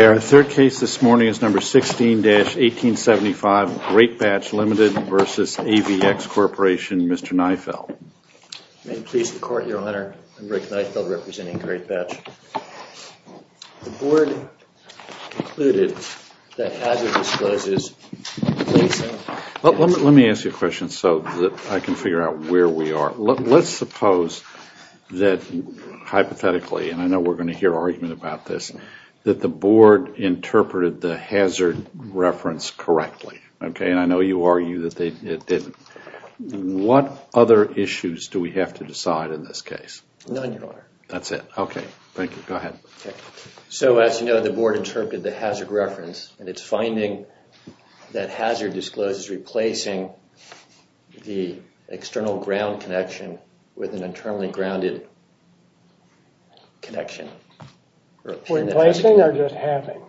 Our third case this morning is number 16-1875 Greatbatch Ltd. v. AVX Corporation, Mr. Niefeld. May it please the Court, Your Honor. I'm Rick Niefeld, representing Greatbatch. The Board concluded that hazard disclosures... Let me ask you a question so that I can figure out where we are. Let's suppose that, hypothetically, and I know we're going to hear argument about this, that the Board interpreted the hazard reference correctly. Okay, and I know you argue that it didn't. What other issues do we have to decide in this case? None, Your Honor. That's it. Okay, thank you. Go ahead. So, as you know, the Board interpreted the hazard reference, and it's finding that hazard discloses replacing the external ground connection with an internally grounded connection. Replacing or just having?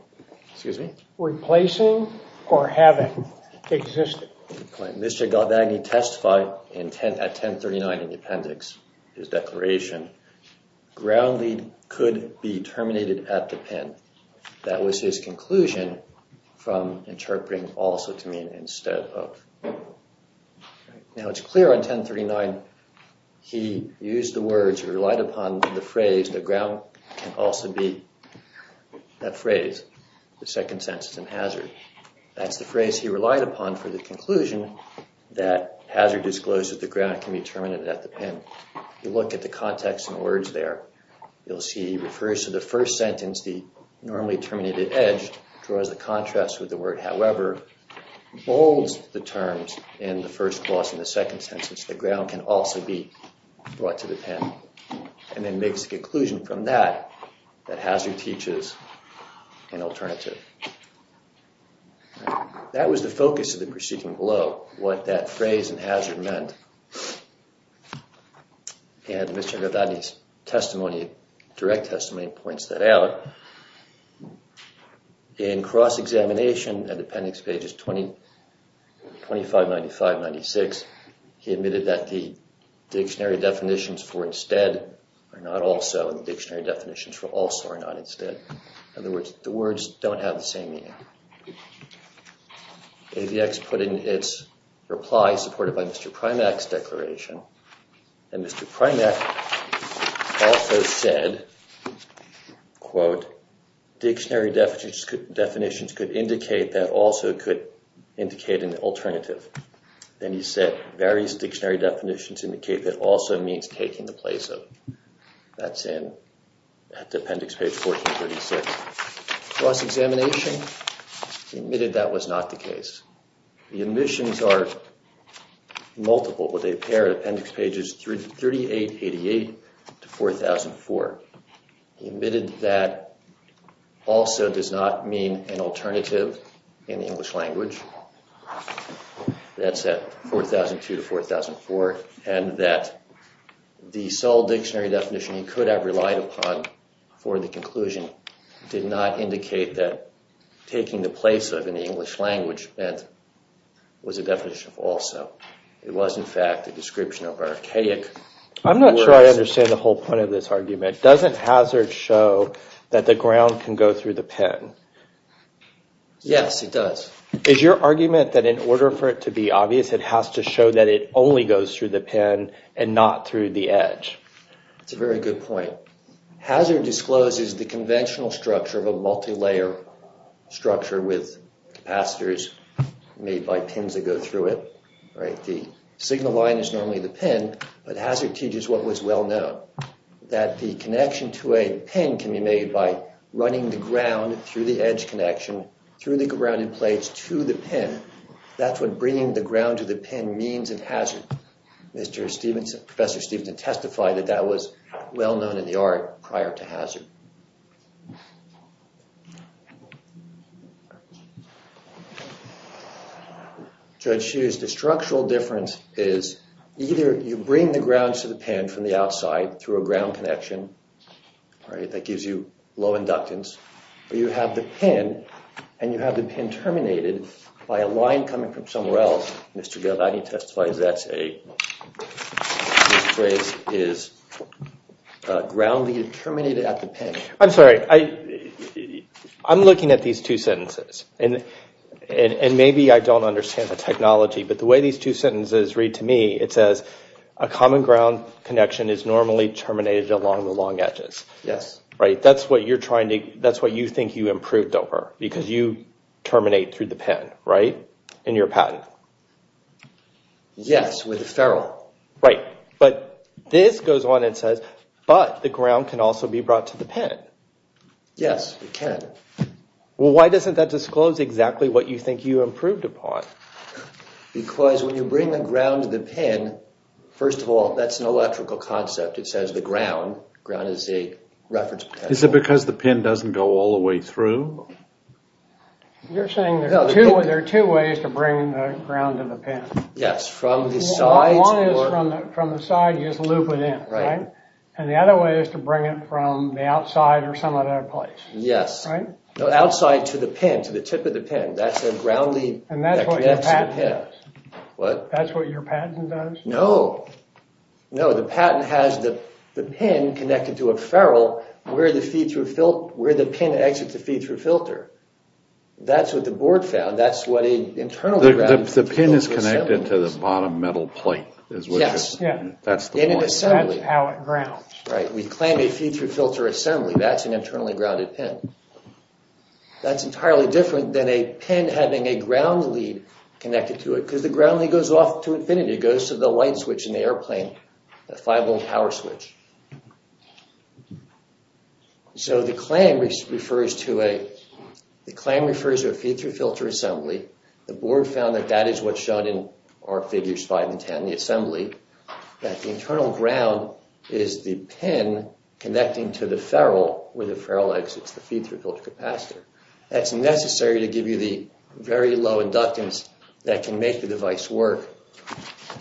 Excuse me? Replacing or having existed? Mr. Galvani testified at 1039 in the appendix, his declaration, ground lead could be terminated at the pin. That was his conclusion from interpreting also to mean instead of. Now, it's clear on 1039 he used the words, relied upon the phrase, the ground can also be that phrase, the second sentence in hazard. That's the phrase he relied upon for the conclusion that hazard discloses the ground can be terminated at the pin. You look at the context in the words there. You'll see he refers to the first sentence, the normally terminated edge, draws the contrast with the word, however, bolds the terms in the first clause in the second sentence, the ground can also be brought to the pin. And then makes a conclusion from that that hazard teaches an alternative. That was the focus of the proceeding below, what that phrase in hazard meant. And Mr. Galvani's testimony, direct testimony, points that out. In cross-examination at appendix pages 2595-96, he admitted that the dictionary definitions for instead are not also and the dictionary definitions for also are not instead. In other words, the words don't have the same meaning. AVX put in its reply, supported by Mr. Primack's declaration, and Mr. Primack also said, quote, dictionary definitions could indicate that also could indicate an alternative. Then he said, various dictionary definitions indicate that also means taking the place of. That's in appendix page 1436. Cross-examination, he admitted that was not the case. The omissions are multiple, but they pair at appendix pages 3888-4004. He admitted that also does not mean an alternative in the English language. That's at 4002-4004. And that the sole dictionary definition he could have relied upon for the conclusion did not indicate that taking the place of in the English language meant was a definition of also. It was, in fact, a description of archaic words. I'm not sure I understand the whole point of this argument. Doesn't hazard show that the ground can go through the pen? Yes, it does. Is your argument that in order for it to be obvious, it has to show that it only goes through the pen and not through the edge? That's a very good point. Hazard discloses the conventional structure of a multilayer structure with capacitors made by pins that go through it. The signal line is normally the pen, but hazard teaches what was well known, that the connection to a pen can be made by running the ground through the edge connection, through the grounded plates to the pen. That's what bringing the ground to the pen means in hazard. Professor Stevenson testified that that was well known in the art prior to hazard. Judge Hughes, the structural difference is either you bring the ground to the pen from the outside through a ground connection. That gives you low inductance. Or you have the pen, and you have the pen terminated by a line coming from somewhere else. Mr. Gildott, he testifies that this phrase is grounded and terminated at the pen. I'm sorry, I'm looking at these two sentences. And maybe I don't understand the technology, but the way these two sentences read to me, it says a common ground connection is normally terminated along the long edges. Yes. That's what you think you improved over, because you terminate through the pen, right? In your patent. Yes, with a ferrule. Right, but this goes on and says, but the ground can also be brought to the pen. Yes, it can. Why doesn't that disclose exactly what you think you improved upon? Because when you bring the ground to the pen, first of all, that's an electrical concept. It says the ground. Ground is a reference potential. Is it because the pen doesn't go all the way through? You're saying there are two ways to bring the ground to the pen. Yes, from the sides. One is from the side, you just loop it in, right? And the other way is to bring it from the outside or some other place. Yes. Outside to the pen, to the tip of the pen. That's a ground lead that connects to the pen. And that's what your patent does. What? That's what your patent does. No. No, the patent has the pen connected to a ferrule where the pen exits the feed-through filter. That's what the board found. That's what an internally grounded pen does. The pen is connected to the bottom metal plate. Yes. That's the one. That's how it grounds. Right. We claim a feed-through filter assembly. That's an internally grounded pen. That's entirely different than a pen having a ground lead connected to it. Because the ground lead goes off to infinity. It goes to the light switch in the airplane, the 5-volt power switch. So the claim refers to a feed-through filter assembly. The board found that that is what's shown in our figures 5 and 10, the assembly. That the internal ground is the pen connecting to the ferrule where the ferrule exits the feed-through filter capacitor. That's necessary to give you the very low inductance that can make the device work.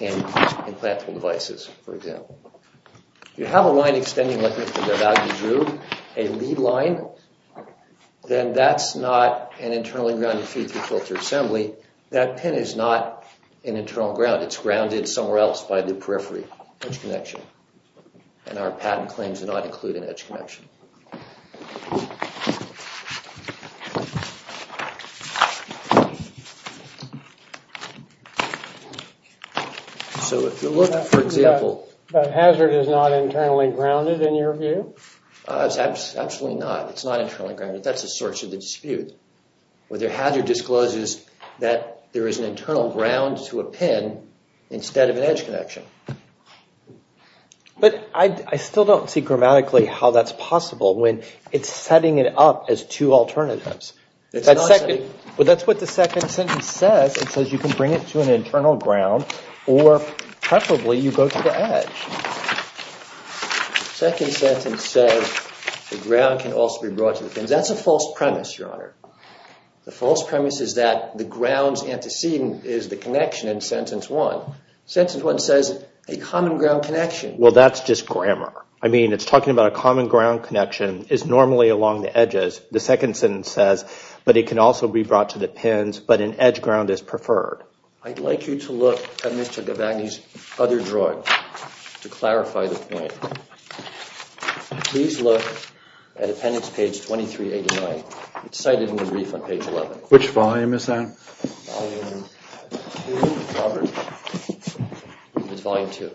In implantable devices, for example. If you have a line extending like this to the value groove, a lead line, then that's not an internally grounded feed-through filter assembly. That pen is not an internal ground. It's grounded somewhere else by the periphery edge connection. And our patent claims do not include an edge connection. So if you look, for example... But hazard is not internally grounded in your view? Absolutely not. It's not internally grounded. That's the source of the dispute. Whether hazard discloses that there is an internal ground to a pen instead of an edge connection. But I still don't see grammatically how that's possible when it's setting it up as two alternatives. But that's what the second sentence says. It says you can bring it to an internal ground or preferably you go to the edge. The second sentence says the ground can also be brought to the pen. That's a false premise, Your Honor. The false premise is that the ground's antecedent is the connection in sentence one. Sentence one says a common ground connection. Well, that's just grammar. I mean, it's talking about a common ground connection is normally along the edges. The second sentence says, but it can also be brought to the pens. But an edge ground is preferred. I'd like you to look at Mr. Gavagni's other drawing to clarify the point. Please look at appendix page 2389. It's cited in the brief on page 11. Which volume is that? Volume two, Robert. It's volume two.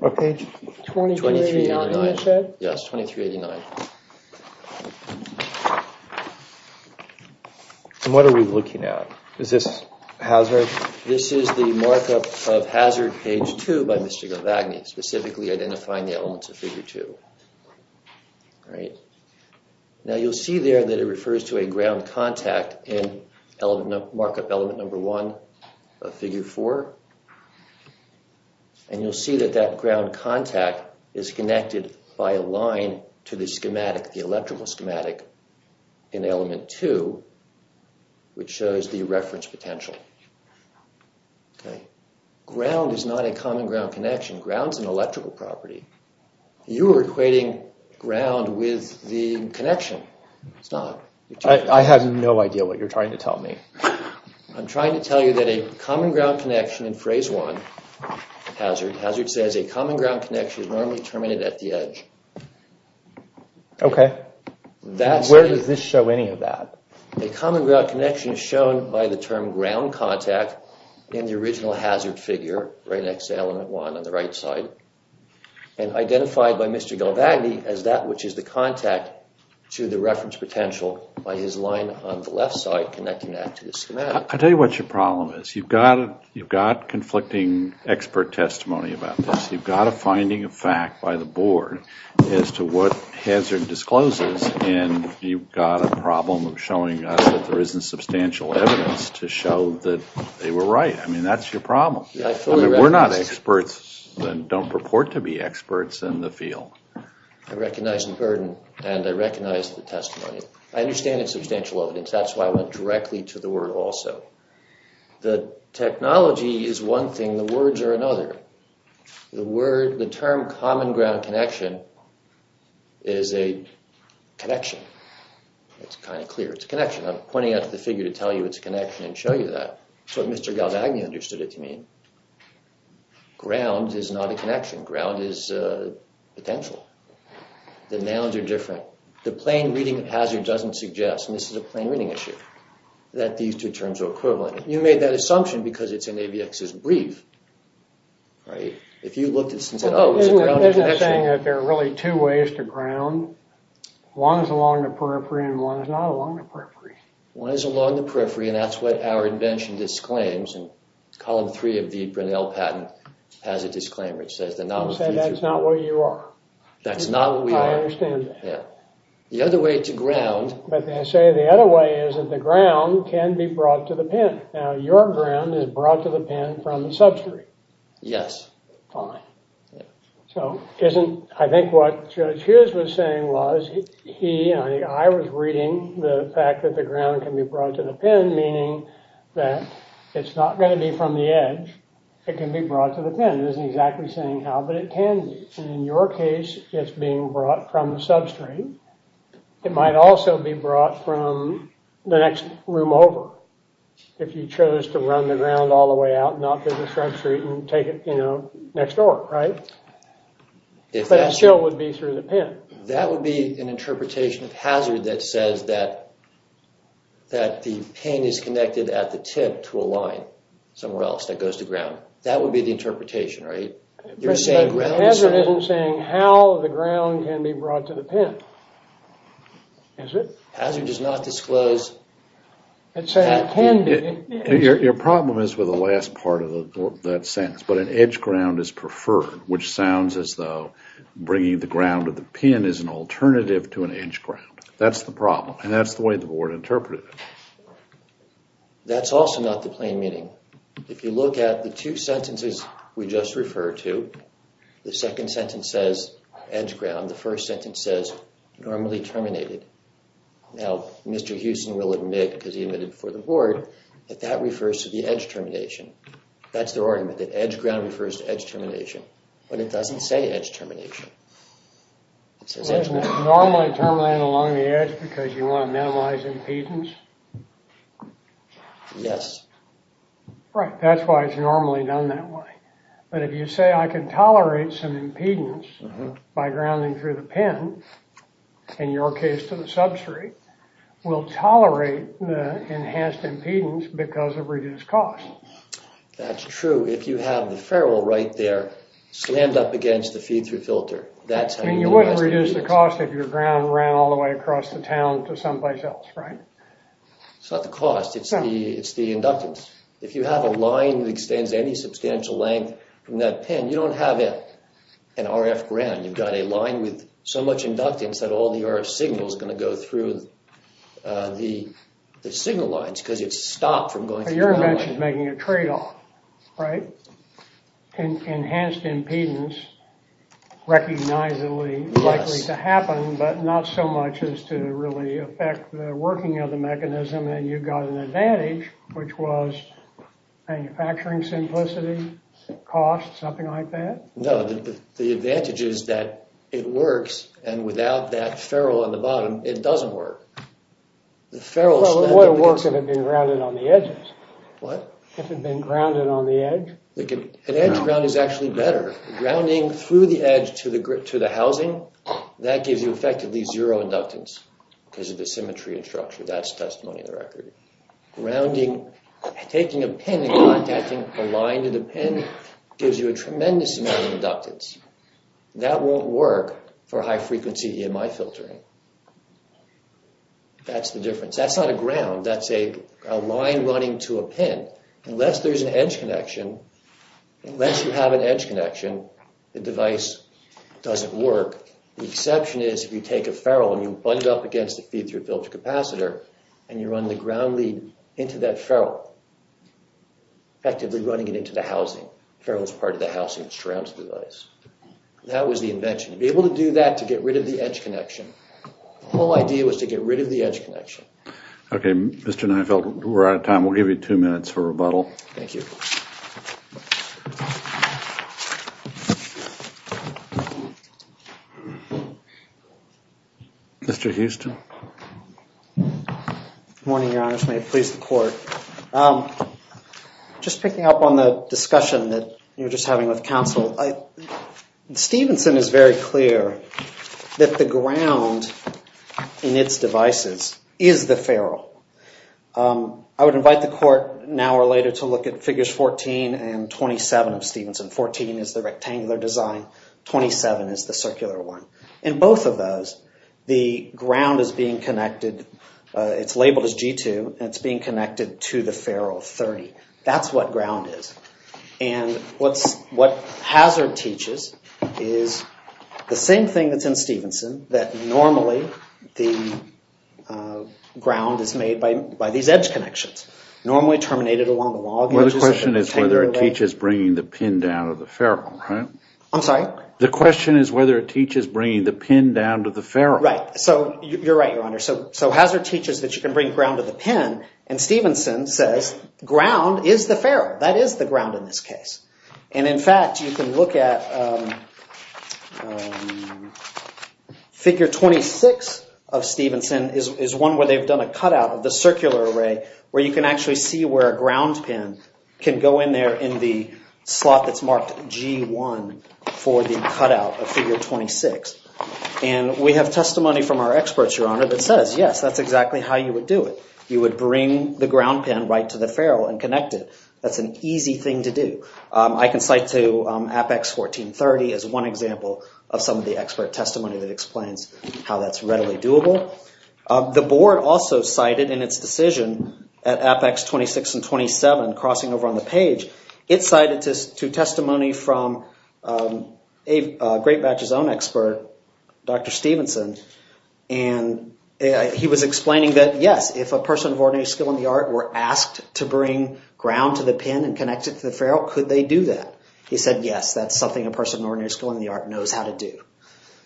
What page? 2389. Yes, 2389. And what are we looking at? Is this hazard? This is the markup of hazard page two by Mr. Gavagni, specifically identifying the elements of figure two. Now you'll see there that it refers to a ground contact in markup element number one of figure four. And you'll see that that ground contact is connected by a line to the schematic, the electrical schematic in element two, which shows the reference potential. Ground is not a common ground connection. Ground's an electrical property. You are equating ground with the connection. I have no idea what you're trying to tell me. I'm trying to tell you that a common ground connection in phrase one, hazard, hazard says a common ground connection is normally terminated at the edge. Okay. Where does this show any of that? A common ground connection is shown by the term ground contact in the original hazard figure right next to element one on the right side and identified by Mr. Gavagni as that which is the contact to the reference potential by his line on the left side connecting that to the schematic. I'll tell you what your problem is. You've got conflicting expert testimony about this. You've got a finding of fact by the board as to what hazard discloses and you've got a problem of showing us that there isn't substantial evidence to show that they were right. I mean, that's your problem. We're not experts that don't purport to be experts in the field. I recognize the burden and I recognize the testimony. I understand it's substantial evidence. That's why I went directly to the word also. The technology is one thing. The words are another. The term common ground connection is a connection. It's kind of clear. It's a connection. I'm pointing out to the figure to tell you it's a connection and show you that. That's what Mr. Gavagni understood it to mean. Ground is not a connection. Ground is potential. The nouns are different. The plain reading hazard doesn't suggest, and this is a plain reading issue, that these two terms are equivalent. You made that assumption because it's in AVX's brief. If you looked at this and said, oh, it's a ground connection. There are really two ways to ground. One is along the periphery and one is not along the periphery. One is along the periphery and that's what our invention disclaims. Column three of the Brunel patent has a disclaimer. It says the noun is future. You say that's not what you are. That's not what we are. I understand that. The other way to ground. But they say the other way is that the ground can be brought to the pen. Now, your ground is brought to the pen from the substrate. Yes. Fine. I think what Judge Hughes was saying was, I was reading the fact that the ground can be brought to the pen, meaning that it's not going to be from the edge. It can be brought to the pen. It isn't exactly saying how, but it can be. And in your case, it's being brought from the substrate. It might also be brought from the next room over if you chose to run the ground all the way out and not go to Shrug Street and take it, you know, next door, right? But a shill would be through the pen. That would be an interpretation of hazard that says that the pen is connected at the tip to a line somewhere else that goes to ground. That would be the interpretation, right? You're saying ground is... But hazard isn't saying how the ground can be brought to the pen. Is it? Hazard does not disclose... It's saying it can be. Your problem is with the last part of that sentence. But an edge ground is preferred, which sounds as though bringing the ground to the pen is an alternative to an edge ground. That's the problem. And that's the way the board interpreted it. That's also not the plain meaning. If you look at the two sentences we just referred to, the second sentence says edge ground, the first sentence says normally terminated. Now, Mr. Houston will admit, because he admitted before the board, that that refers to the edge termination. That's their argument, that edge ground refers to edge termination. But it doesn't say edge termination. Doesn't it normally terminate along the edge because you want to minimize impedance? Yes. Right, that's why it's normally done that way. But if you say I can tolerate some impedance by grounding through the pen, in your case to the substrate, will tolerate the enhanced impedance because of reduced cost. That's true. If you have the ferrule right there slammed up against the feed-through filter, that's how you minimize the impedance. I mean, you wouldn't reduce the cost if your ground ran all the way across the town to someplace else, right? It's not the cost, it's the inductance. If you have a line that extends any substantial length from that pen, you don't have an RF ground. You've got a line with so much inductance that all the RF signal is going to go through the signal lines because it's stopped from going through the ground. But your invention is making a trade-off, right? Enhanced impedance, recognizably likely to happen, but not so much as to really affect the working of the mechanism, and you got an advantage, which was manufacturing simplicity, cost, something like that? No, the advantage is that it works, and without that ferrule on the bottom, it doesn't work. Well, it would have worked if it had been grounded on the edges. What? If it had been grounded on the edge. An edge ground is actually better. Grounding through the edge to the housing, that gives you effectively zero inductance because of the symmetry and structure. That's testimony of the record. Grounding, taking a pen and contacting a line to the pen gives you a tremendous amount of inductance. That won't work for high-frequency EMI filtering. That's the difference. That's not a ground, that's a line running to a pen. Unless there's an edge connection, unless you have an edge connection, the device doesn't work. The exception is if you take a ferrule and you bund it up against the feed-through filter capacitor, and you run the ground lead into that ferrule, effectively running it into the housing. The ferrule is part of the housing that surrounds the device. That was the invention. To be able to do that, to get rid of the edge connection. The whole idea was to get rid of the edge connection. Okay, Mr. Neufeld, we're out of time. We'll give you two minutes for rebuttal. Thank you. Thank you. Mr. Houston. Good morning, Your Honors. May it please the Court. Just picking up on the discussion that you were just having with counsel, Stevenson is very clear that the ground is the ferrule. I would invite the Court, now or later, to look at Figures 14 and 27 of Stevenson. 14 is the rectangular design. 27 is the circular one. In both of those, the ground is being connected. It's labeled as G2, and it's being connected to the ferrule 30. That's what ground is. And what hazard teaches is the same thing that's in Stevenson, that normally the ground is made by these edge connections, normally terminated along the log edges. The question is whether it teaches bringing the pin down to the ferrule, right? I'm sorry? The question is whether it teaches bringing the pin down to the ferrule. Right. So you're right, Your Honor. So hazard teaches that you can bring ground to the pin, and Stevenson says ground is the ferrule. That is the ground in this case. And in fact, you can look at Figure 26 of Stevenson is one where they've done a cutout of the circular array where you can actually see where a ground pin can go in there in the slot that's marked G1 for the cutout of Figure 26. And we have testimony from our experts, Your Honor, that says, yes, that's exactly how you would do it. You would bring the ground pin right to the ferrule and connect it. That's an easy thing to do. I can cite to Apex 1430 as one example of some of the expert testimony that explains how that's readily doable. The board also cited in its decision at Apex 26 and 27 crossing over on the page, it cited to testimony from Great Batch's own expert, Dr. Stevenson, and he was explaining that, yes, if a person of ordinary skill in the art were asked to bring ground to the pin and connect it to the ferrule, could they do that? He said, yes, that's something a person of ordinary skill in the art knows how to do.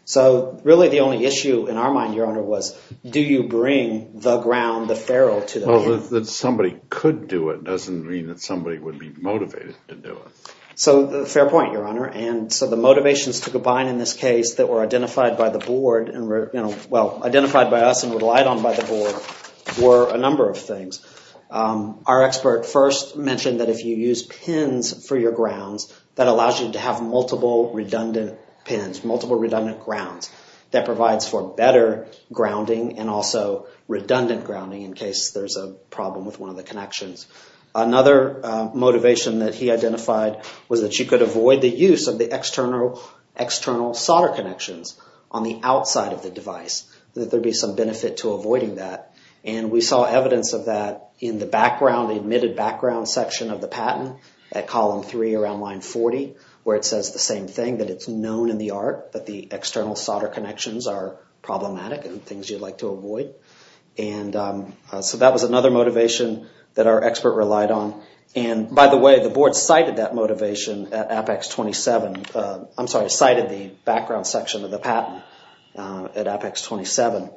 So, really, the only issue in our mind, Your Honor, was do you bring the ground, the ferrule to the pin? Well, that somebody could do it doesn't mean that somebody would be motivated to do it. So, fair point, Your Honor. And so the motivations to combine in this case that were identified by the board and were, you know, well, identified by us and relied on by the board were a number of things. Our expert first mentioned that if you use pins for your grounds, that allows you to have multiple redundant pins, multiple redundant grounds. That provides for better grounding and also redundant grounding in case there's a problem with one of the connections. Another motivation that he identified was that you could avoid the use of the external solder connections on the outside of the device. That there'd be some benefit to avoiding that. And we saw evidence of that in the background, the admitted background section of the patent at column three around line 40, where it says the same thing, that it's known in the art that the external solder connections are problematic and things you'd like to avoid. And so that was another motivation that our expert relied on. And by the way, the board cited that motivation at Apex 27. I'm sorry, cited the background section of the patent at Apex 27.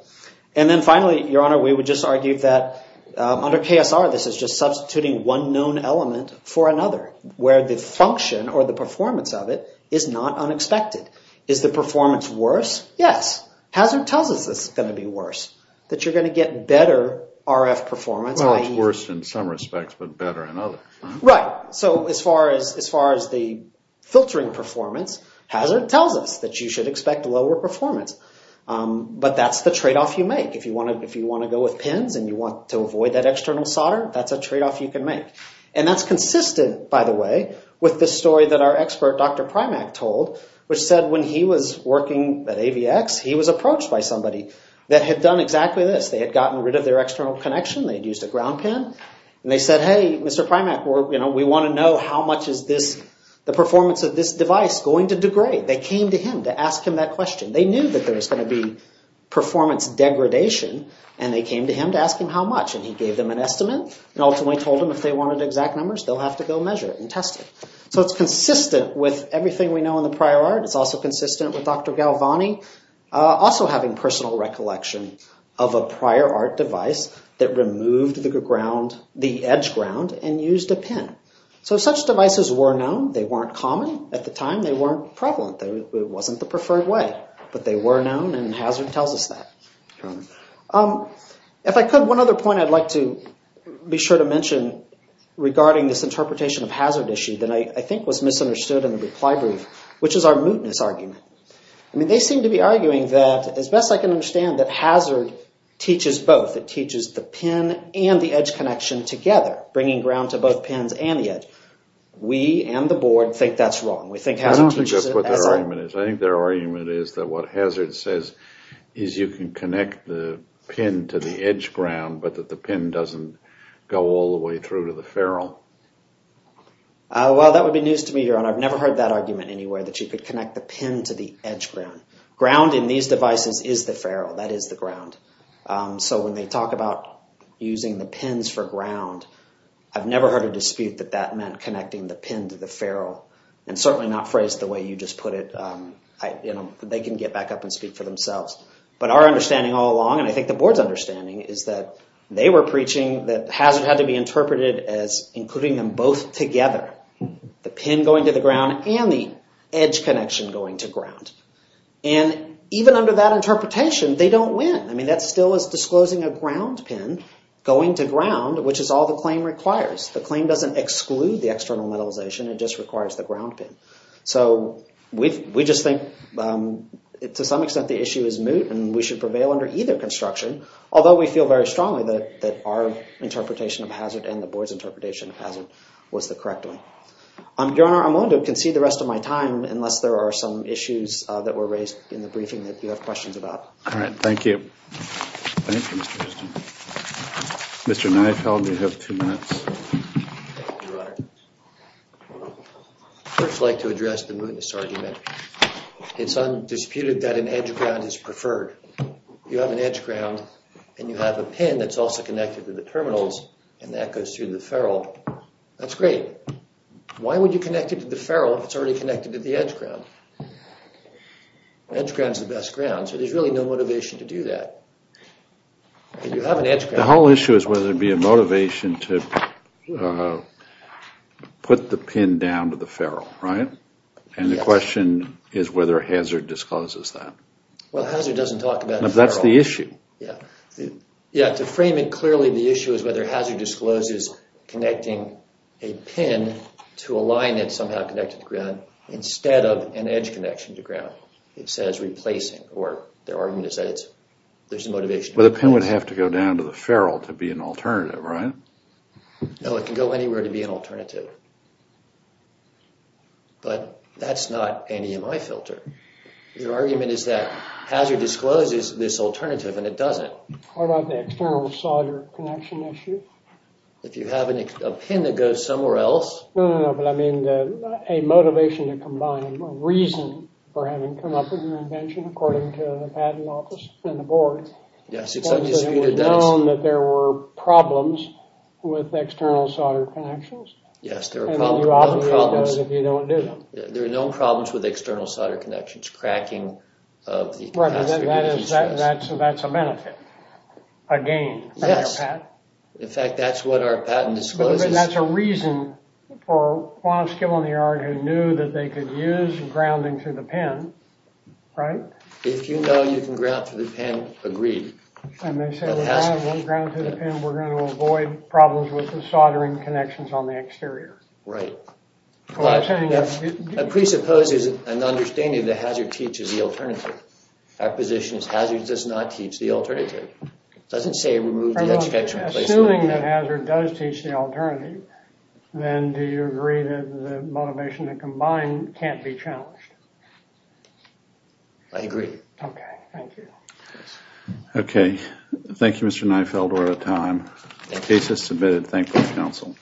And then finally, Your Honor, we would just argue that under KSR, this is just substituting one known element for another, where the function or the performance of it is not unexpected. Is the performance worse? Yes. Hazard tells us it's going to be worse. That you're going to get better RF performance. Well, it's worse in some respects, but better in others. Right. So as far as the filtering performance, hazard tells us that you should expect lower performance. But that's the tradeoff you make. If you want to go with pins and you want to avoid that external solder, that's a tradeoff you can make. And that's consistent, by the way, with the story that our expert, Dr. Primack, told, which said when he was working at AVX, he was approached by somebody that had done exactly this. They had gotten rid of their external connection, they'd used a ground pin, and they said, hey, Mr. Primack, we want to know how much is this, the performance of this device going to degrade? They came to him to ask him that question. They knew that there was going to be performance degradation, and they came to him to ask him how much. And he gave them an estimate and ultimately told them if they wanted exact numbers, they'll have to go measure it and test it. So it's consistent with everything we know in the prior art. It's also consistent with Dr. Galvani also having personal records. He had a personal recollection of a prior art device that removed the ground, the edge ground, and used a pin. So such devices were known. They weren't common. At the time, they weren't prevalent. It wasn't the preferred way. But they were known, and Hazard tells us that. If I could, one other point I'd like to be sure to mention regarding this interpretation of Hazard issue that I think was misunderstood in the reply brief, which is our mootness argument. They seem to be arguing that as best I can understand that Hazard teaches both. It teaches the pin and the edge connection together, bringing ground to both pins and the edge. We and the board think that's wrong. I don't think that's what their argument is. I think their argument is that what Hazard says is you can connect the pin to the edge ground, but that the pin doesn't go all the way through to the ferrule. Well, that would be news to me, Your Honor. I've never heard that argument anywhere that you could connect the pin to the edge ground. Ground in these devices is the ferrule. That is the ground. So when they talk about using the pins for ground, I've never heard a dispute that that meant connecting the pin to the ferrule. And certainly not phrased the way you just put it. They can get back up and speak for themselves. But our understanding all along, and I think the board's understanding, that Hazard had to be interpreted as including them both together, the pin going to the ground and the edge connection going to ground. And even under that interpretation, they don't win. I mean, that still is disclosing a ground pin going to ground, which is all the claim requires. The claim doesn't exclude the external metalization. It just requires the ground pin. So we just think, to some extent, the issue is moot, and we should prevail under either construction, although we feel very strongly that our interpretation of Hazard and the board's interpretation of Hazard was the correct one. Your Honor, I'm willing to concede the rest of my time unless there are some issues that were raised in the briefing that you have questions about. All right, thank you. Thank you, Mr. Houston. Mr. Neufeld, you have two minutes. Thank you, Your Honor. First, I'd like to address the mootness argument. It's undisputed that an edge ground is preferred. You have an edge ground, and you have a pin that's also connected to the terminals, and that goes through the ferrule. That's great. Why would you connect it to the ferrule if it's already connected to the edge ground? Edge ground's the best ground, so there's really no motivation to do that. You have an edge ground. The whole issue is whether there'd be a motivation to put the pin down to the ferrule, right? Yes. And the question is whether Hazard discloses that. Well, Hazard doesn't talk about the ferrule. That's the issue. Yeah, to frame it clearly, the issue is whether Hazard discloses connecting a pin to a line that's somehow connected to ground instead of an edge connection to ground. It says replacing, or their argument is that there's a motivation. Well, the pin would have to go down to the ferrule to be an alternative, right? No, it can go anywhere to be an alternative. But that's not an EMI filter. Their argument is that Hazard discloses this alternative, and it doesn't. What about the external solder connection issue? If you have a pin that goes somewhere else... No, no, no, but I mean a motivation to combine, a reason for having come up with an invention, according to the patent office and the board. Yes, it's undisputed evidence. It was known that there were problems with external solder connections. Yes, there were problems. And you obviate those if you don't do them. There are known problems with external solder connections, cracking of the... Right, so that's a benefit, a gain for their patent. Yes. In fact, that's what our patent discloses. But that's a reason for Quantus Gill on the argument knew that they could use grounding through the pin. Right? If you know you can ground through the pin, agreed. And they said, we're going to ground through the pin, we're going to avoid problems with the soldering connections on the exterior. Right. But that presupposes an understanding that Hazard teaches the alternative. Our position is Hazard does not teach the alternative. It doesn't say remove the extension... Assuming that Hazard does teach the alternative, then do you agree that the motivation that combined can't be challenged? I agree. Okay, thank you. Okay. Thank you, Mr. Neifeld for your time. The case is submitted. Thank you, counsel.